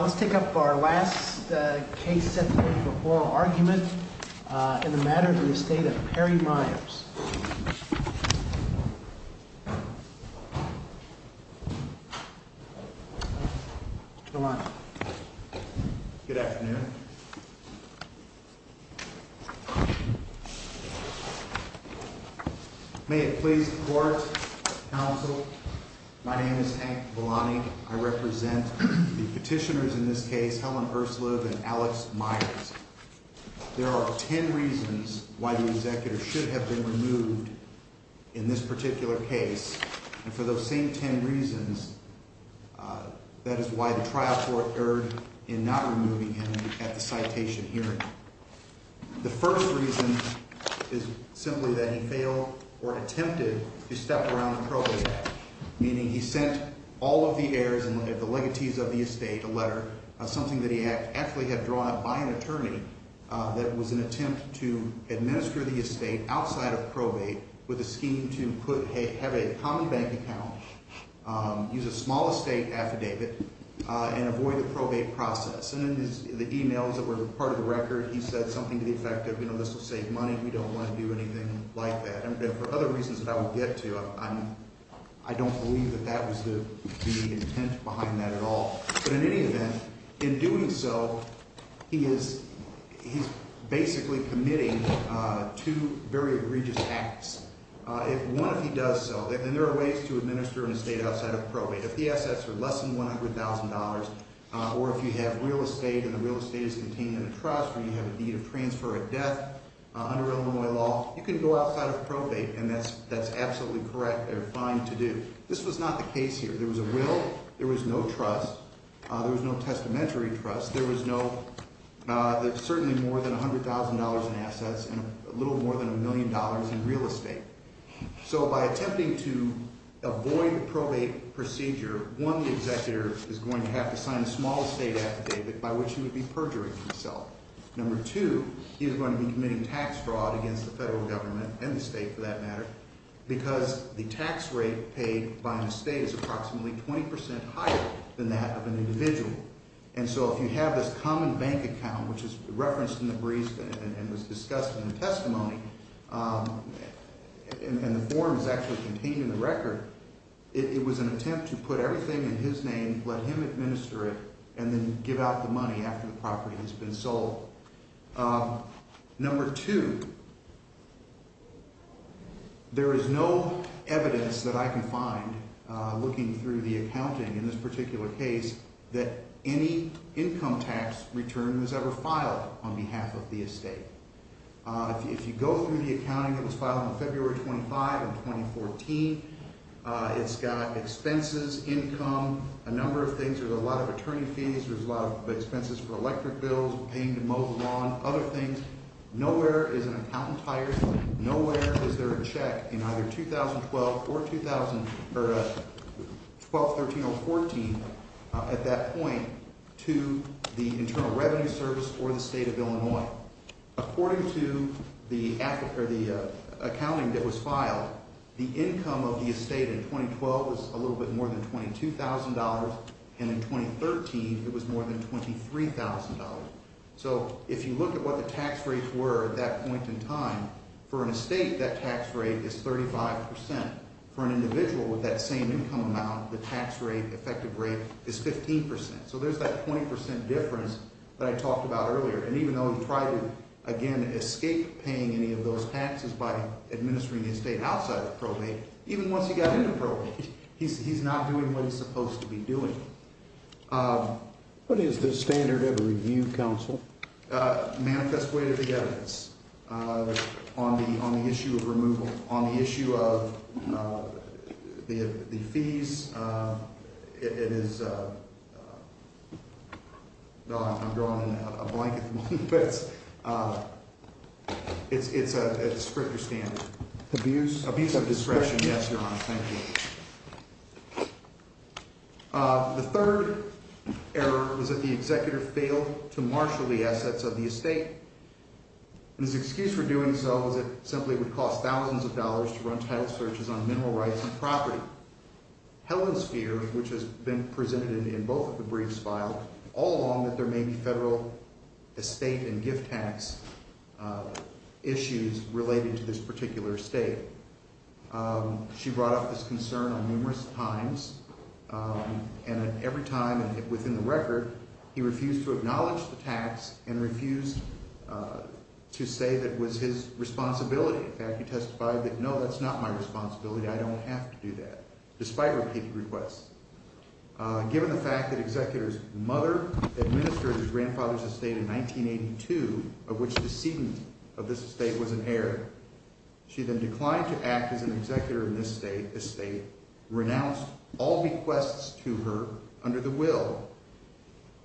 Let's take up our last case sentence of oral argument in the Matter of Estate of Perry Meyers. Good afternoon. May it please the court, counsel, my name is Hank Belani. I represent the petitioners in this case, Helen Ursuliv and Alex Myers. There are ten reasons why the executor should have been removed in this particular case. And for those same ten reasons, that is why the trial court erred in not removing him at the citation hearing. The first reason is simply that he failed or attempted to step around the probate act. Meaning he sent all of the heirs and the legatees of the estate a letter, something that he actually had drawn up by an attorney, that was an attempt to administer the estate outside of probate with a scheme to have a common bank account, use a small estate affidavit, and avoid the probate process. And in the emails that were part of the record, he said something to the effect of, you know, this will save money, we don't want to do anything like that. And for other reasons that I will get to, I don't believe that that was the intent behind that at all. But in any event, in doing so, he is basically committing two very egregious acts. One, if he does so, and there are ways to administer an estate outside of probate. If the assets are less than $100,000, or if you have real estate and the real estate is contained in a trust, where you have a deed of transfer or death under Illinois law, you can go outside of probate and that's absolutely correct or fine to do. This was not the case here. There was a will, there was no trust, there was no testamentary trust. There was certainly more than $100,000 in assets and a little more than a million dollars in real estate. So by attempting to avoid the probate procedure, one, the executor is going to have to sign a small estate affidavit, by which he would be perjuring himself. Number two, he is going to be committing tax fraud against the federal government, and the state for that matter, because the tax rate paid by an estate is approximately 20% higher than that of an individual. And so if you have this common bank account, which is referenced in the briefs and was discussed in the testimony, and the form is actually contained in the record, it was an attempt to put everything in his name, let him administer it, and then give out the money after the property has been sold. Number two, there is no evidence that I can find, looking through the accounting in this particular case, that any income tax return was ever filed on behalf of the estate. If you go through the accounting that was filed on February 25, 2014, it's got expenses, income, a number of things. There's a lot of attorney fees. There's a lot of expenses for electric bills, paying to mow the lawn, other things. Nowhere is an accountant hired. Nowhere is there a check in either 2012 or 12, 13, or 14 at that point to the Internal Revenue Service or the state of Illinois. According to the accounting that was filed, the income of the estate in 2012 was a little bit more than $22,000, and in 2013 it was more than $23,000. So if you look at what the tax rates were at that point in time, for an estate that tax rate is 35%. For an individual with that same income amount, the tax rate, effective rate, is 15%. So there's that 20% difference that I talked about earlier. And even though he tried to, again, escape paying any of those taxes by administering the estate outside of probate, even once he got into probate, he's not doing what he's supposed to be doing. What is the standard of review, counsel? Manifest weight of the evidence on the issue of removal. On the issue of the fees, it is – no, I'm drawing in a blanket from all the bits. It's a stricter standard. Abuse? Abuse of discretion, yes, Your Honor. Thank you. The third error was that the executor failed to marshal the assets of the estate. And his excuse for doing so was it simply would cost thousands of dollars to run title searches on mineral rights and property. Helen's fear, which has been presented in both of the briefs filed, all along that there may be federal estate and gift tax issues related to this particular estate. She brought up this concern on numerous times. And every time, and within the record, he refused to acknowledge the tax and refused to say that it was his responsibility. In fact, he testified that, no, that's not my responsibility. I don't have to do that, despite repeated requests. Given the fact that the executor's mother administered his grandfather's estate in 1982, of which the ceding of this estate was inherited, she then declined to act as an executor in this estate, renounced all bequests to her under the will,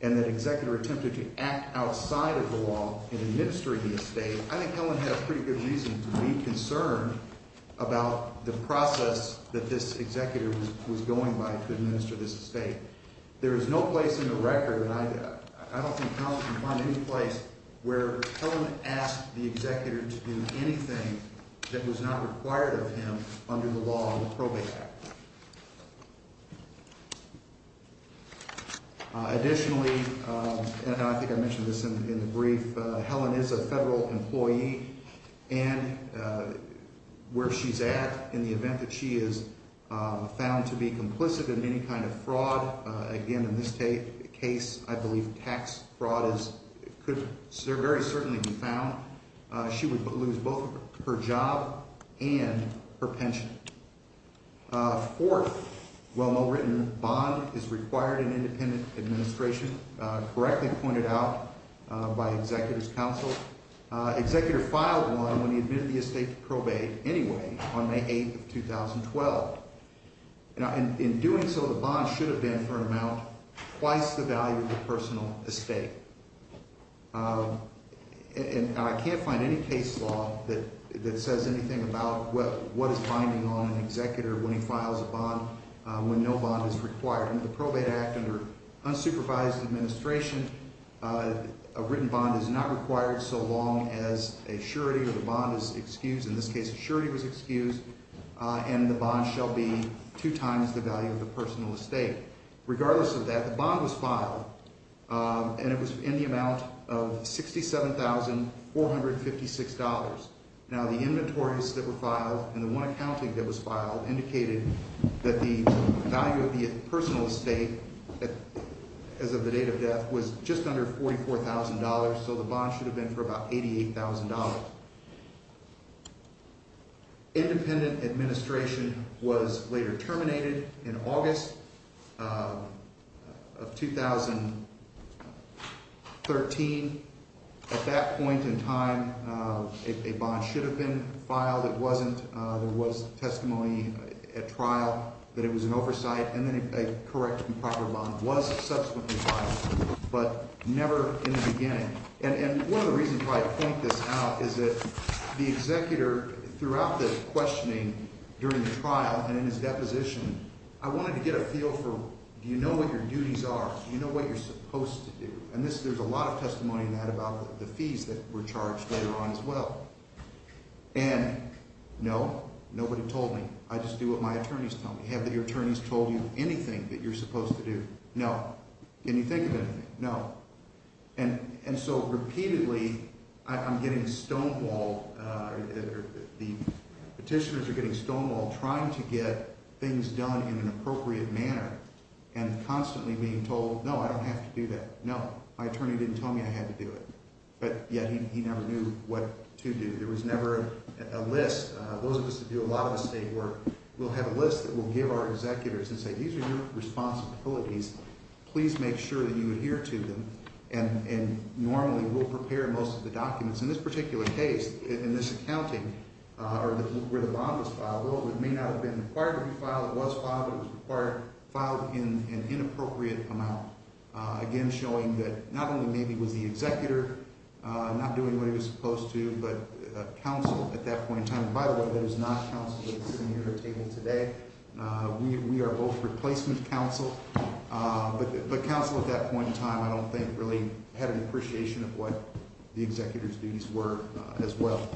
and that executor attempted to act outside of the law in administering the estate, I think Helen had a pretty good reason to be concerned about the process that this executor was going by to administer this estate. There is no place in the record, and I don't think Helen can find any place, where Helen asked the executor to do anything that was not required of him under the law of the Probate Act. Additionally, and I think I mentioned this in the brief, Helen is a federal employee, and where she's at, in the event that she is found to be complicit in any kind of fraud, again, in this case, I believe tax fraud could very certainly be found, she would lose both her job and her pension. Fourth, well-written, bond is required in independent administration, correctly pointed out by executor's counsel. Executor filed one when he admitted the estate to probate anyway, on May 8th of 2012. In doing so, the bond should have been for an amount twice the value of the personal estate. And I can't find any case law that says anything about what is binding on an executor when he files a bond when no bond is required. Under the Probate Act, under unsupervised administration, a written bond is not required so long as a surety or the bond is excused. In this case, a surety was excused, and the bond shall be two times the value of the personal estate. Regardless of that, the bond was filed, and it was in the amount of $67,456. Now the inventories that were filed and the one accounting that was filed indicated that the value of the personal estate as of the date of death was just under $44,000, so the bond should have been for about $88,000. Independent administration was later terminated in August of 2013. At that point in time, a bond should have been filed. It wasn't. There was testimony at trial that it was an oversight, and then a correct and proper bond was subsequently filed, but never in the beginning. And one of the reasons why I point this out is that the executor throughout the questioning during the trial and in his deposition, I wanted to get a feel for do you know what your duties are? Do you know what you're supposed to do? And there's a lot of testimony in that about the fees that were charged later on as well. And no, nobody told me. I just do what my attorneys tell me. Have your attorneys told you anything that you're supposed to do? No. Can you think of anything? No. And so repeatedly, I'm getting stonewalled. The petitioners are getting stonewalled trying to get things done in an appropriate manner and constantly being told, no, I don't have to do that. No. My attorney didn't tell me I had to do it. But yet he never knew what to do. There was never a list. Those of us that do a lot of estate work, we'll have a list that we'll give our executors and say, these are your responsibilities. Please make sure that you adhere to them. And normally, we'll prepare most of the documents. In this particular case, in this accounting, where the bond was filed, it may not have been required to be filed. It was filed, but it was filed in an inappropriate amount. Again, showing that not only maybe it was the executor not doing what he was supposed to, but counsel at that point in time. And by the way, that is not counsel sitting here at the table today. We are both replacement counsel. But counsel at that point in time, I don't think, really had an appreciation of what the executor's duties were as well.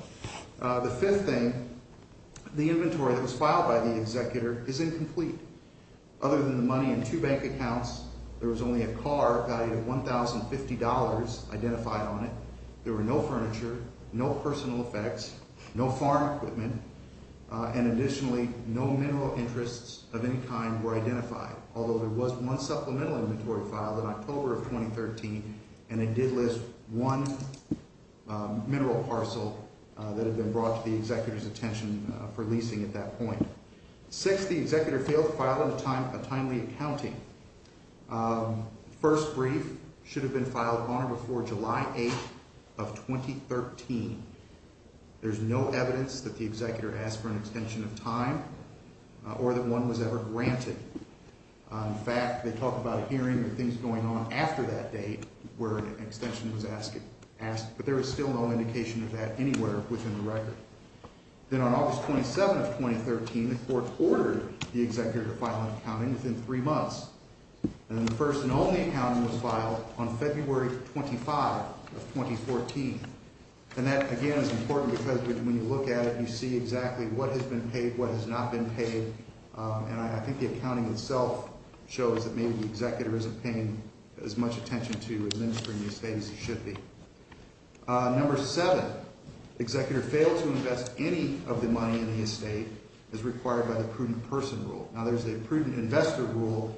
The fifth thing, the inventory that was filed by the executor is incomplete. Other than the money in two bank accounts, there was only a car valued at $1,050 identified on it. There were no furniture, no personal effects, no farm equipment, and additionally, no mineral interests of any kind were identified. Although there was one supplemental inventory filed in October of 2013, and it did list one mineral parcel that had been brought to the executor's attention for leasing at that point. Sixth, the executor failed to file a timely accounting. First brief should have been filed on or before July 8th of 2013. There's no evidence that the executor asked for an extension of time or that one was ever granted. In fact, they talk about a hearing and things going on after that date where an extension was asked. But there is still no indication of that anywhere within the record. Then on August 27th of 2013, the court ordered the executor to file an accounting within three months. And the first and only accounting was filed on February 25th of 2014. And that, again, is important because when you look at it, you see exactly what has been paid, what has not been paid. And I think the accounting itself shows that maybe the executor isn't paying as much attention to his industry in these days as he should be. Number seven, the executor failed to invest any of the money in the estate as required by the prudent person rule. Now, there's a prudent investor rule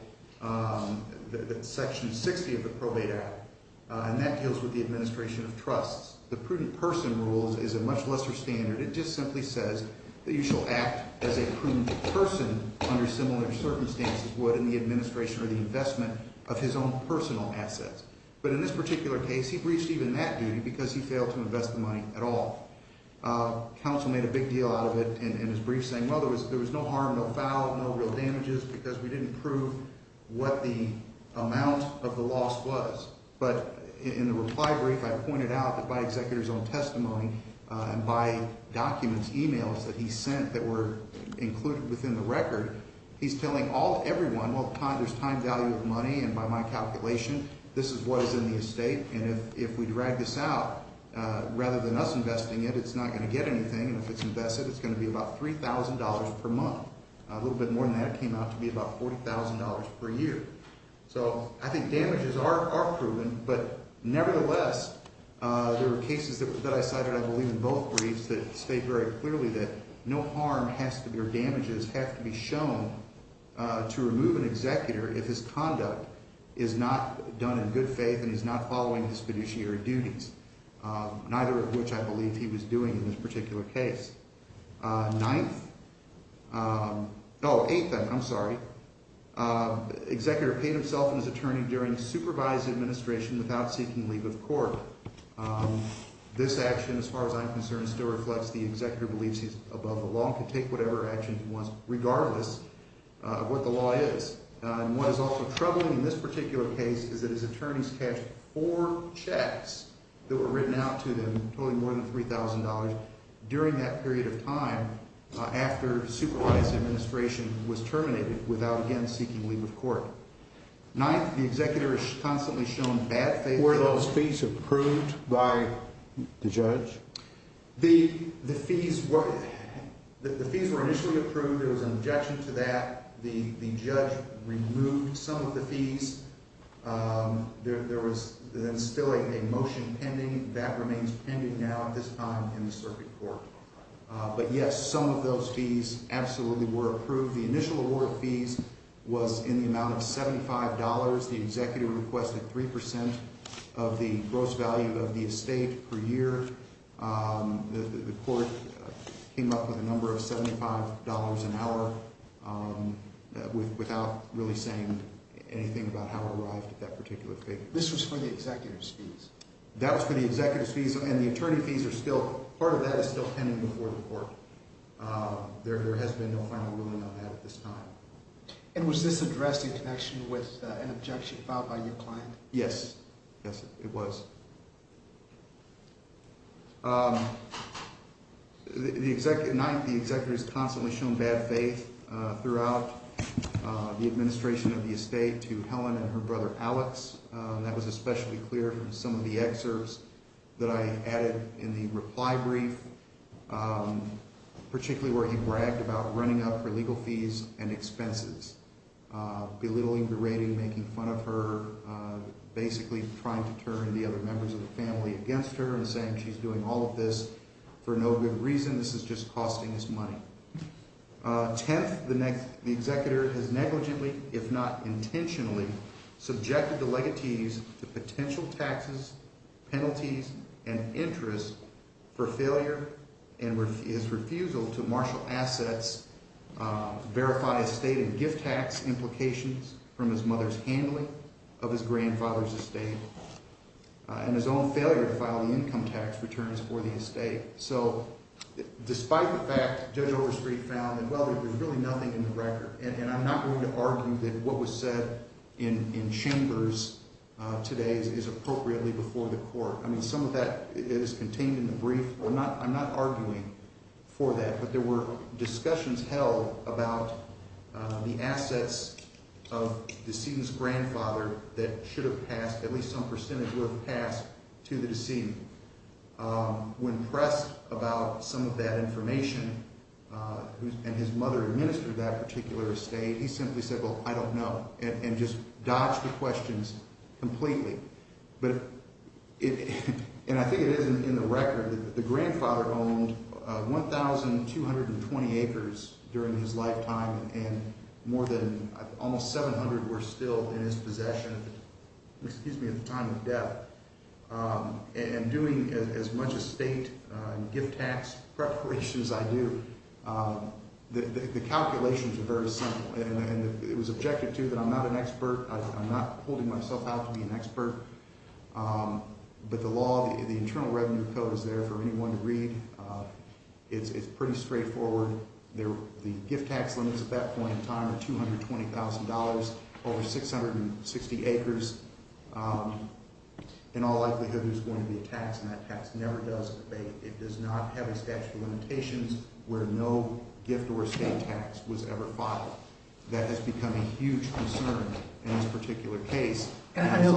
that's Section 60 of the Probate Act, and that deals with the administration of trusts. The prudent person rule is a much lesser standard. It just simply says that you shall act as a prudent person under similar circumstances would in the administration or the investment of his own personal assets. But in this particular case, he breached even that duty because he failed to invest the money at all. Counsel made a big deal out of it in his brief, saying, well, there was no harm, no foul, no real damages because we didn't prove what the amount of the loss was. But in the reply brief, I pointed out that by executor's own testimony and by documents, e-mails that he sent that were included within the record, he's telling everyone, well, there's time value of money. And by my calculation, this is what is in the estate. And if we drag this out, rather than us investing it, it's not going to get anything. And if it's invested, it's going to be about $3,000 per month. A little bit more than that came out to be about $40,000 per year. So I think damages are proven. But nevertheless, there were cases that I cited, I believe, in both briefs that state very clearly that no harm has to be or damages have to be shown to remove an executor if his conduct is not done in good faith and he's not following his fiduciary duties, neither of which I believe he was doing in this particular case. Ninth – oh, eighth, I'm sorry. Executor paid himself and his attorney during supervised administration without seeking leave of court. This action, as far as I'm concerned, still reflects the executor believes he's above the law and could take whatever action he wants, regardless of what the law is. And what is also troubling in this particular case is that his attorneys cashed four checks that were written out to them, totaling more than $3,000, during that period of time after supervised administration was terminated without again seeking leave of court. Ninth, the executor is constantly shown bad faith. Were those fees approved by the judge? The fees were initially approved. There was an objection to that. The judge removed some of the fees. There was then still a motion pending. That remains pending now at this time in the circuit court. But yes, some of those fees absolutely were approved. The initial award of fees was in the amount of $75. The executor requested 3% of the gross value of the estate per year. The court came up with a number of $75 an hour without really saying anything about how it arrived at that particular figure. This was for the executor's fees? That was for the executor's fees. And the attorney fees are still, part of that is still pending before the court. There has been no final ruling on that at this time. And was this addressed in connection with an objection filed by your client? Yes. Yes, it was. Ninth, the executor is constantly shown bad faith throughout the administration of the estate to Helen and her brother Alex. That was especially clear from some of the excerpts that I added in the reply brief, particularly where he bragged about running up her legal fees and expenses, belittling, berating, making fun of her, basically trying to turn the other members of the family against her and saying she's doing all of this for no good reason. This is just costing us money. Tenth, the executor has negligently, if not intentionally, subjected the legatees to potential taxes, penalties, and interest for failure and his refusal to marshal assets, verify estate and gift tax implications from his mother's handling of his grandfather's estate, and his own failure to file the income tax returns for the estate. So despite the fact Judge Overstreet found that, well, there's really nothing in the record. And I'm not going to argue that what was said in chambers today is appropriately before the court. I mean, some of that is contained in the brief. I'm not arguing for that. But there were discussions held about the assets of the decedent's grandfather that should have passed. At least some percentage were passed to the decedent. When pressed about some of that information and his mother administered that particular estate, he simply said, well, I don't know, and just dodged the questions completely. And I think it is in the record that the grandfather owned 1,220 acres during his lifetime, and more than almost 700 were still in his possession at the time of death. And doing as much estate and gift tax preparation as I do, the calculations are very simple. And it was objected to that I'm not an expert. I'm not holding myself out to be an expert. But the law, the internal revenue code is there for anyone to read. It's pretty straightforward. The gift tax limits at that point in time are $220,000 over 660 acres. In all likelihood, there's going to be a tax, and that tax never does abate. It does not have a statute of limitations where no gift or estate tax was ever filed. That has become a huge concern in this particular case. And I know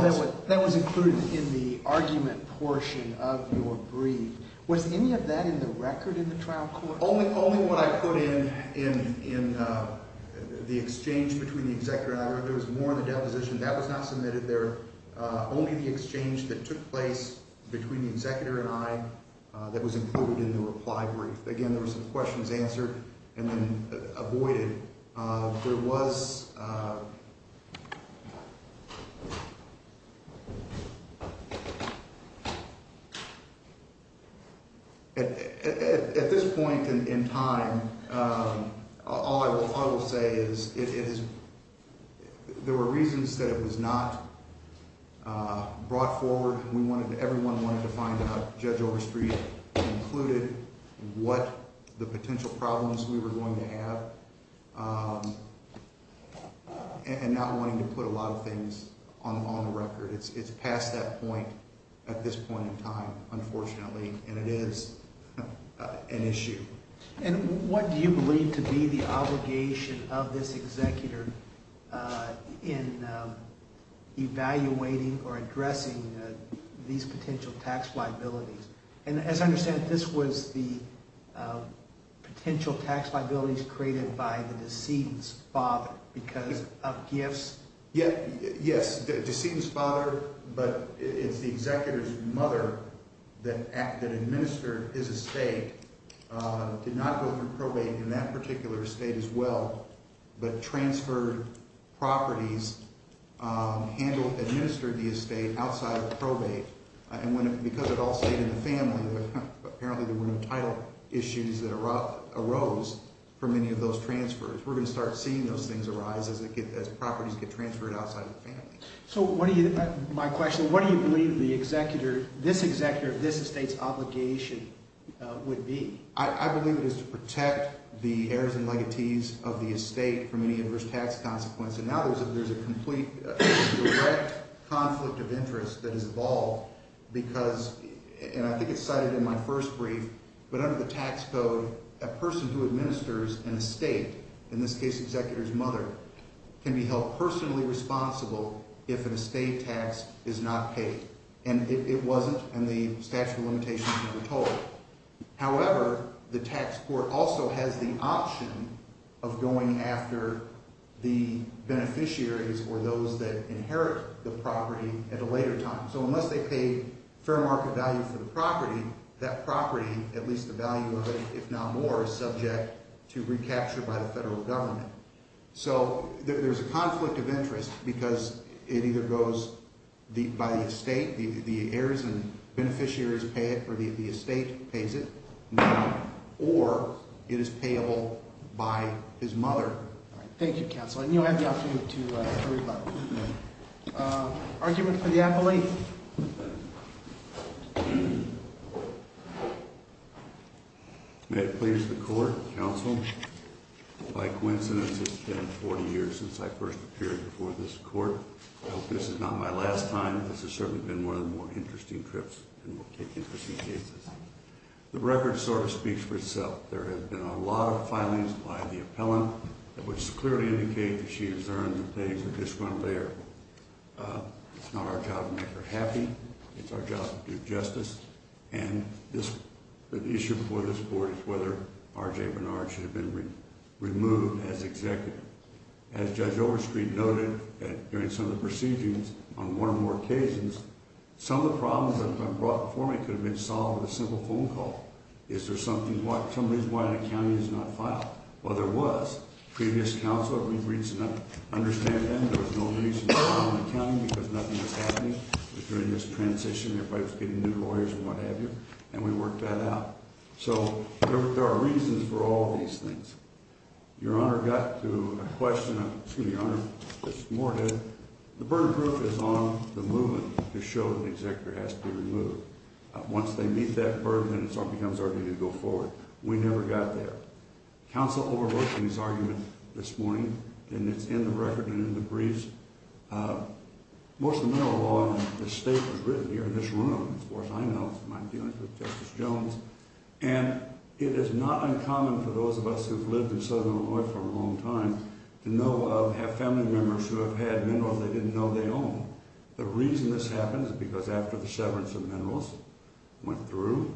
that was included in the argument portion of your brief. Was any of that in the record in the trial court? Only what I put in the exchange between the executor and I. There was more in the deposition. That was not submitted there. Only the exchange that took place between the executor and I that was included in the reply brief. Again, there were some questions answered and then avoided. There was at this point in time, all I will say is there were reasons that it was not brought forward. Everyone wanted to find out, Judge Overstreet included, what the potential problems we were going to have. And not wanting to put a lot of things on the record. It's past that point at this point in time, unfortunately. And it is an issue. And what do you believe to be the obligation of this executor in evaluating or addressing these potential tax liabilities? And as I understand it, this was the potential tax liabilities created by the decedent's father because of gifts. Yes, the decedent's father, but it's the executor's mother that administered his estate. Did not go through probate in that particular estate as well. But transferred properties, administered the estate outside of probate. And because it all stayed in the family, apparently there were no title issues that arose from any of those transfers. We're going to start seeing those things arise as properties get transferred outside of the family. So what do you, my question, what do you believe the executor, this executor of this estate's obligation would be? I believe it is to protect the heirs and legatees of the estate from any adverse tax consequence. And now there's a complete direct conflict of interest that has evolved because, and I think it's cited in my first brief, but under the tax code, a person who administers an estate, in this case executor's mother, can be held personally responsible if an estate tax is not paid. And it wasn't, and the statute of limitations never told. However, the tax court also has the option of going after the beneficiaries or those that inherit the property at a later time. So unless they pay fair market value for the property, that property, at least the value of it, if not more, is subject to recapture by the federal government. So there's a conflict of interest because it either goes by the estate, the heirs and beneficiaries pay it, or the estate pays it, or it is payable by his mother. Thank you, Counselor. And you'll have the opportunity to rebut. Argument for the appellee. May it please the Court, Counsel. By coincidence, it's been 40 years since I first appeared before this Court. I hope this is not my last time. This has certainly been one of the more interesting trips and we'll take interesting cases. The record sort of speaks for itself. There have been a lot of filings by the appellant, which clearly indicates that she has earned the things that this one bear. It's not our job to make her happy. It's our job to do justice. And the issue before this Court is whether R.J. Bernard should have been removed as executive. As Judge Overstreet noted during some of the proceedings on one or more occasions, some of the problems that have been brought before me could have been solved with a simple phone call. Is there something, some reason why an accounting is not filed? Well, there was. Previous counsel, every reason to understand them. There was no reason to file an accounting because nothing was happening during this transition. Everybody was getting new lawyers and what have you. And we worked that out. So there are reasons for all of these things. Your Honor got to a question of, excuse me, Your Honor, this morning. The burden of proof is on the movement to show that the executor has to be removed. Once they meet that burden, then it becomes our duty to go forward. We never got there. Counsel overrode King's argument this morning, and it's in the record and in the briefs. Most of the mineral law in this state was written here in this room. Of course, I know. It's my dealings with Justice Jones. And it is not uncommon for those of us who have lived in southern Illinois for a long time to know of, have family members who have had minerals they didn't know they owned. The reason this happened is because after the severance of minerals went through,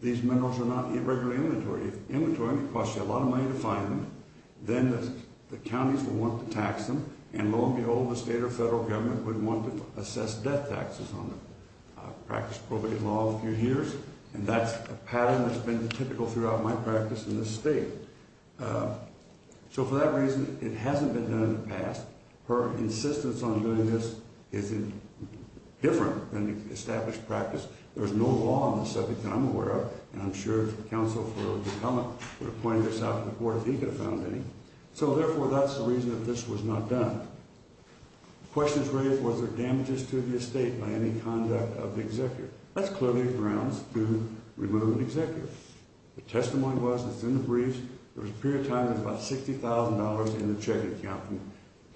these minerals are not regularly inventory. If inventory costs you a lot of money to find them, then the counties will want to tax them. And lo and behold, the state or federal government would want to assess debt taxes on them. I've practiced probate law a few years, and that's a pattern that's been typical throughout my practice in this state. So for that reason, it hasn't been done in the past. Her insistence on doing this is different than the established practice. There's no law on the subject that I'm aware of, and I'm sure if the counsel for Oklahoma would have pointed this out to the court, he could have found any. So, therefore, that's the reason that this was not done. The question is raised, was there damages to the estate by any conduct of the executor? That's clearly grounds to remove an executor. The testimony was, it's in the briefs, there was a period of time there was about $60,000 in the checking account,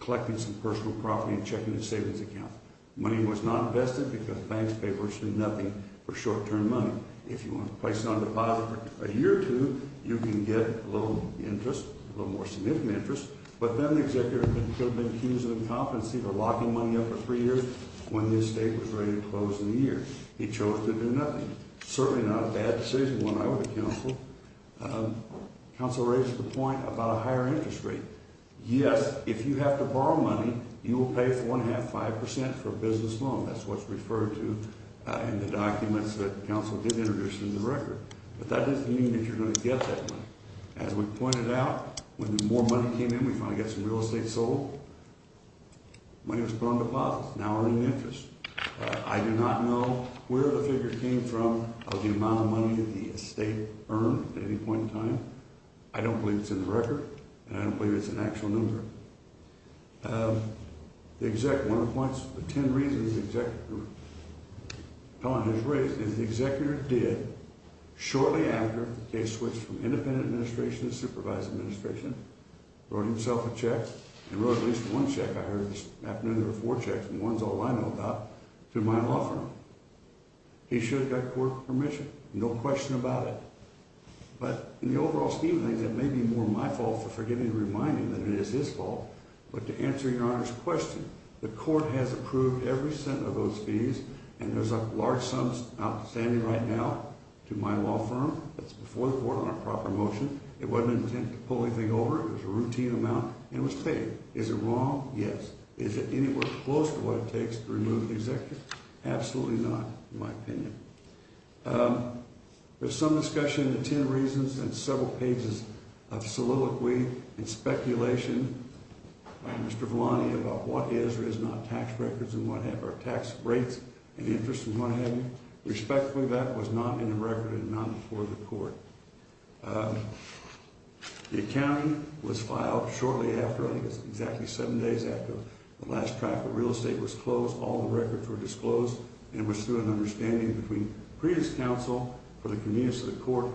collecting some personal property and checking the savings account. Money was not invested because the bank's papers did nothing for short-term money. If you want to place it on a deposit for a year or two, you can get a little interest, a little more significant interest, but then the executor could have been accused of incompetency for locking money up for three years when the estate was ready to close in a year. He chose to do nothing. Certainly not a bad decision when I was a counsel. Counsel raised the point about a higher interest rate. Yes, if you have to borrow money, you will pay 4.5%, 5% for a business loan. That's what's referred to in the documents that counsel did introduce in the record. But that doesn't mean that you're going to get that money. As we pointed out, when more money came in, we finally got some real estate sold. Money was put on deposits, now we're in interest. I do not know where the figure came from of the amount of money the estate earned at any point in time. I don't believe it's in the record, and I don't believe it's an actual number. The exec, one of the points, the ten reasons the exec has raised is the executor did, shortly after the case switched from independent administration to supervised administration, wrote himself a check and wrote at least one check. I heard this afternoon there were four checks, and one's all I know about, to my law firm. He should have got court permission. No question about it. But in the overall scheme of things, it may be more my fault for forgiving and reminding him that it is his fault, but to answer Your Honor's question, the court has approved every cent of those fees, and there's a large sum outstanding right now to my law firm. That's before the court on a proper motion. It wasn't an attempt to pull anything over. It was a routine amount, and it was paid. Is it wrong? Yes. Is it anywhere close to what it takes to remove the executor? Absolutely not, in my opinion. There's some discussion in the ten reasons and several pages of soliloquy and speculation by Mr. Volani about what is or is not tax records and what have you, or tax rates and interest and what have you. Respectfully, that was not in the record and not before the court. The accounting was filed shortly after, I think it was exactly seven days after the last track of real estate was closed. All the records were disclosed, and it was through an understanding between previous counsel for the convenience of the court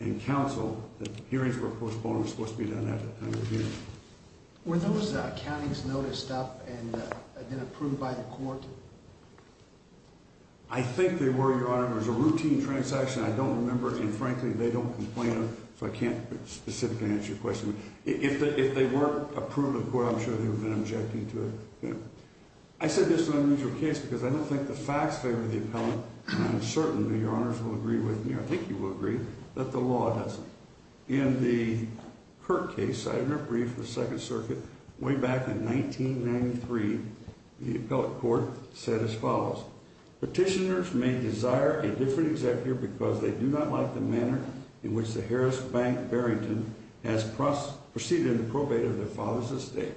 and counsel that hearings were postponed and were supposed to be done at that time of year. Were those accountings noticed up and then approved by the court? I think they were, Your Honor. It was a routine transaction. I don't remember, and frankly, they don't complain if I can't specifically answer your question. If they weren't approved by the court, I'm sure they would have been objecting to it. I said this is an unusual case because I don't think the facts favor the appellant, and I'm certain that Your Honors will agree with me, I think you will agree, that the law doesn't. In the Kirk case, I read a brief of the Second Circuit way back in 1993, the appellate court said as follows, Petitioners may desire a different executor because they do not like the manner in which the Harris Bank Barrington has proceeded in the probate of their father's estate.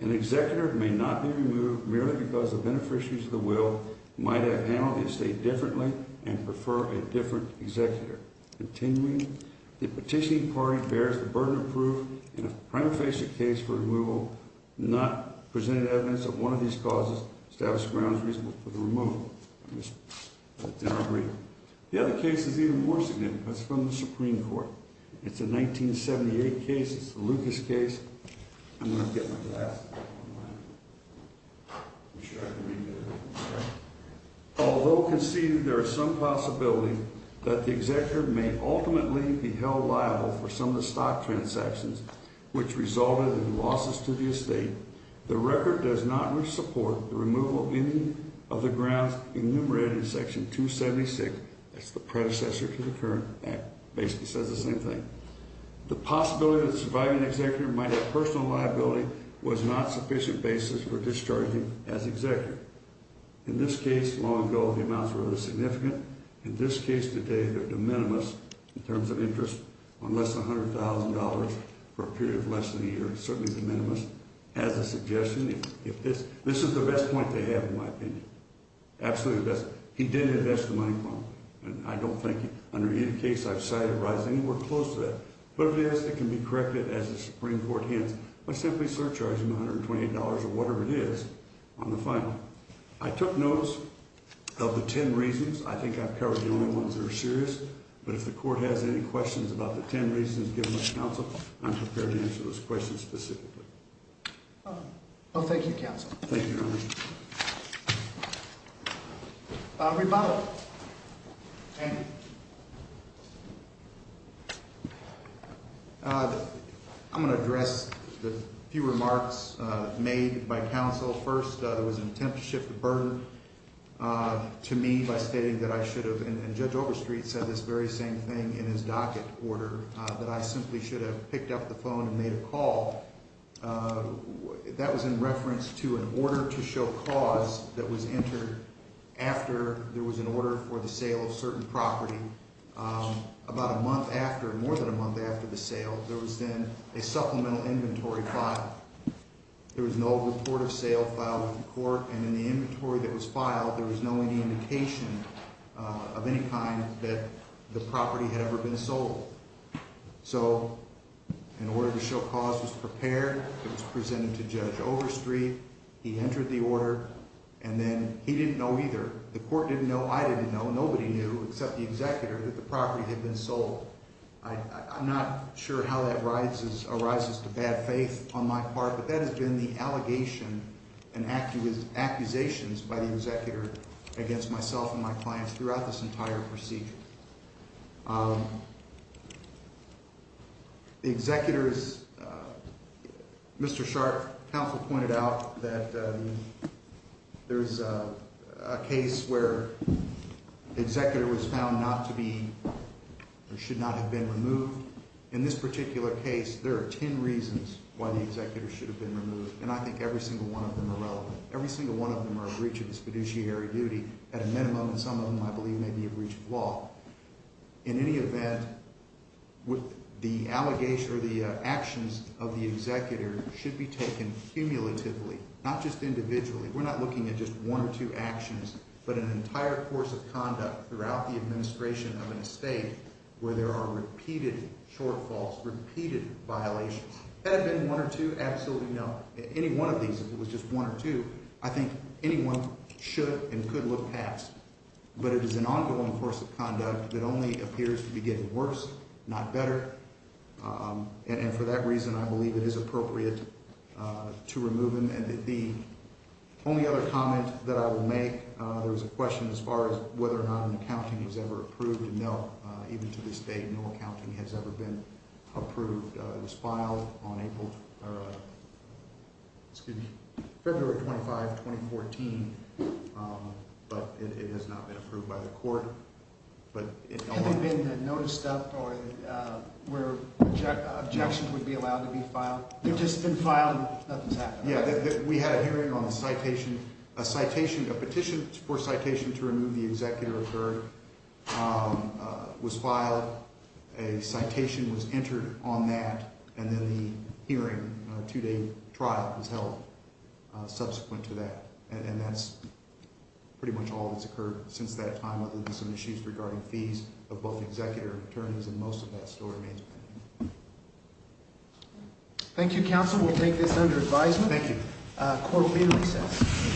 An executor may not be removed merely because the beneficiaries of the will might have handled the estate differently and prefer a different executor. Continuing, the petitioning party bears the burden of proof in a prima facie case for removal, not presented evidence that one of these causes establishes grounds reasonable for the removal. I just didn't agree. The other case is even more significant. It's from the Supreme Court. It's a 1978 case. It's the Lucas case. I'm going to get my glass. I'm sure I can read that. Although conceded, there is some possibility that the executor may ultimately be held liable for some of the stock transactions, which resulted in losses to the estate. The record does not support the removal of any of the grounds enumerated in Section 276. That's the predecessor to the current act. It basically says the same thing. The possibility that a surviving executor might have personal liability was not a sufficient basis for discharging as executor. In this case, long ago, the amounts were rather significant. In this case today, they're de minimis in terms of interest on less than $100,000 for a period of less than a year. It's certainly de minimis as a suggestion. This is the best point they have, in my opinion. Absolutely the best. He did invest the money wrong. And I don't think under either case I've sighted a rise anywhere close to that. But if it is, it can be corrected as the Supreme Court hands, by simply surcharging $128 or whatever it is on the final. I took notes of the ten reasons. I think I've covered the only ones that are serious. But if the court has any questions about the ten reasons given by counsel, I'm prepared to answer those questions specifically. Well, thank you, counsel. Thank you, Your Honor. Rebuttal. I'm going to address the few remarks made by counsel. First, there was an attempt to shift the burden to me by stating that I should have, and Judge Overstreet said this very same thing in his docket order, that I simply should have picked up the phone and made a call. That was in reference to an order to show cause that was entered after there was an order for the sale of certain property. About a month after, more than a month after the sale, there was then a supplemental inventory file. There was no report of sale filed with the court, and in the inventory that was filed, there was no indication of any kind that the property had ever been sold. So an order to show cause was prepared. It was presented to Judge Overstreet. He entered the order. And then he didn't know either. The court didn't know. I didn't know. Nobody knew except the executor that the property had been sold. I'm not sure how that arises to bad faith on my part, but that has been the allegation and accusations by the executor against myself and my clients throughout this entire procedure. The executor's, Mr. Sharpe, counsel pointed out that there is a case where the executor was found not to be or should not have been removed. In this particular case, there are ten reasons why the executor should have been removed, and I think every single one of them are relevant. Every single one of them are a breach of his fiduciary duty at a minimum, and some of them I believe may be a breach of law. In any event, the allegations or the actions of the executor should be taken cumulatively, not just individually. We're not looking at just one or two actions, but an entire course of conduct throughout the administration of an estate where there are repeated shortfalls, repeated violations. Had it been one or two, absolutely no. Any one of these, if it was just one or two, I think anyone should and could look past, but it is an ongoing course of conduct that only appears to be getting worse, not better, and for that reason, I believe it is appropriate to remove him. The only other comment that I will make, there was a question as far as whether or not an accounting was ever approved, and no, even to this date, no accounting has ever been approved. It was filed on April, excuse me, February 25, 2014, but it has not been approved by the court. Have there been notice stuff where objections would be allowed to be filed? They've just been filed and nothing's happened. Yeah, we had a hearing on the citation. A petition for citation to remove the executor occurred, was filed. A citation was entered on that, and then the hearing, two-day trial was held subsequent to that, and that's pretty much all that's occurred since that time, other than some issues regarding fees of both executor and attorneys, and most of that still remains pending. Thank you, counsel. We'll take this under advisement. Thank you. Court will be recessed.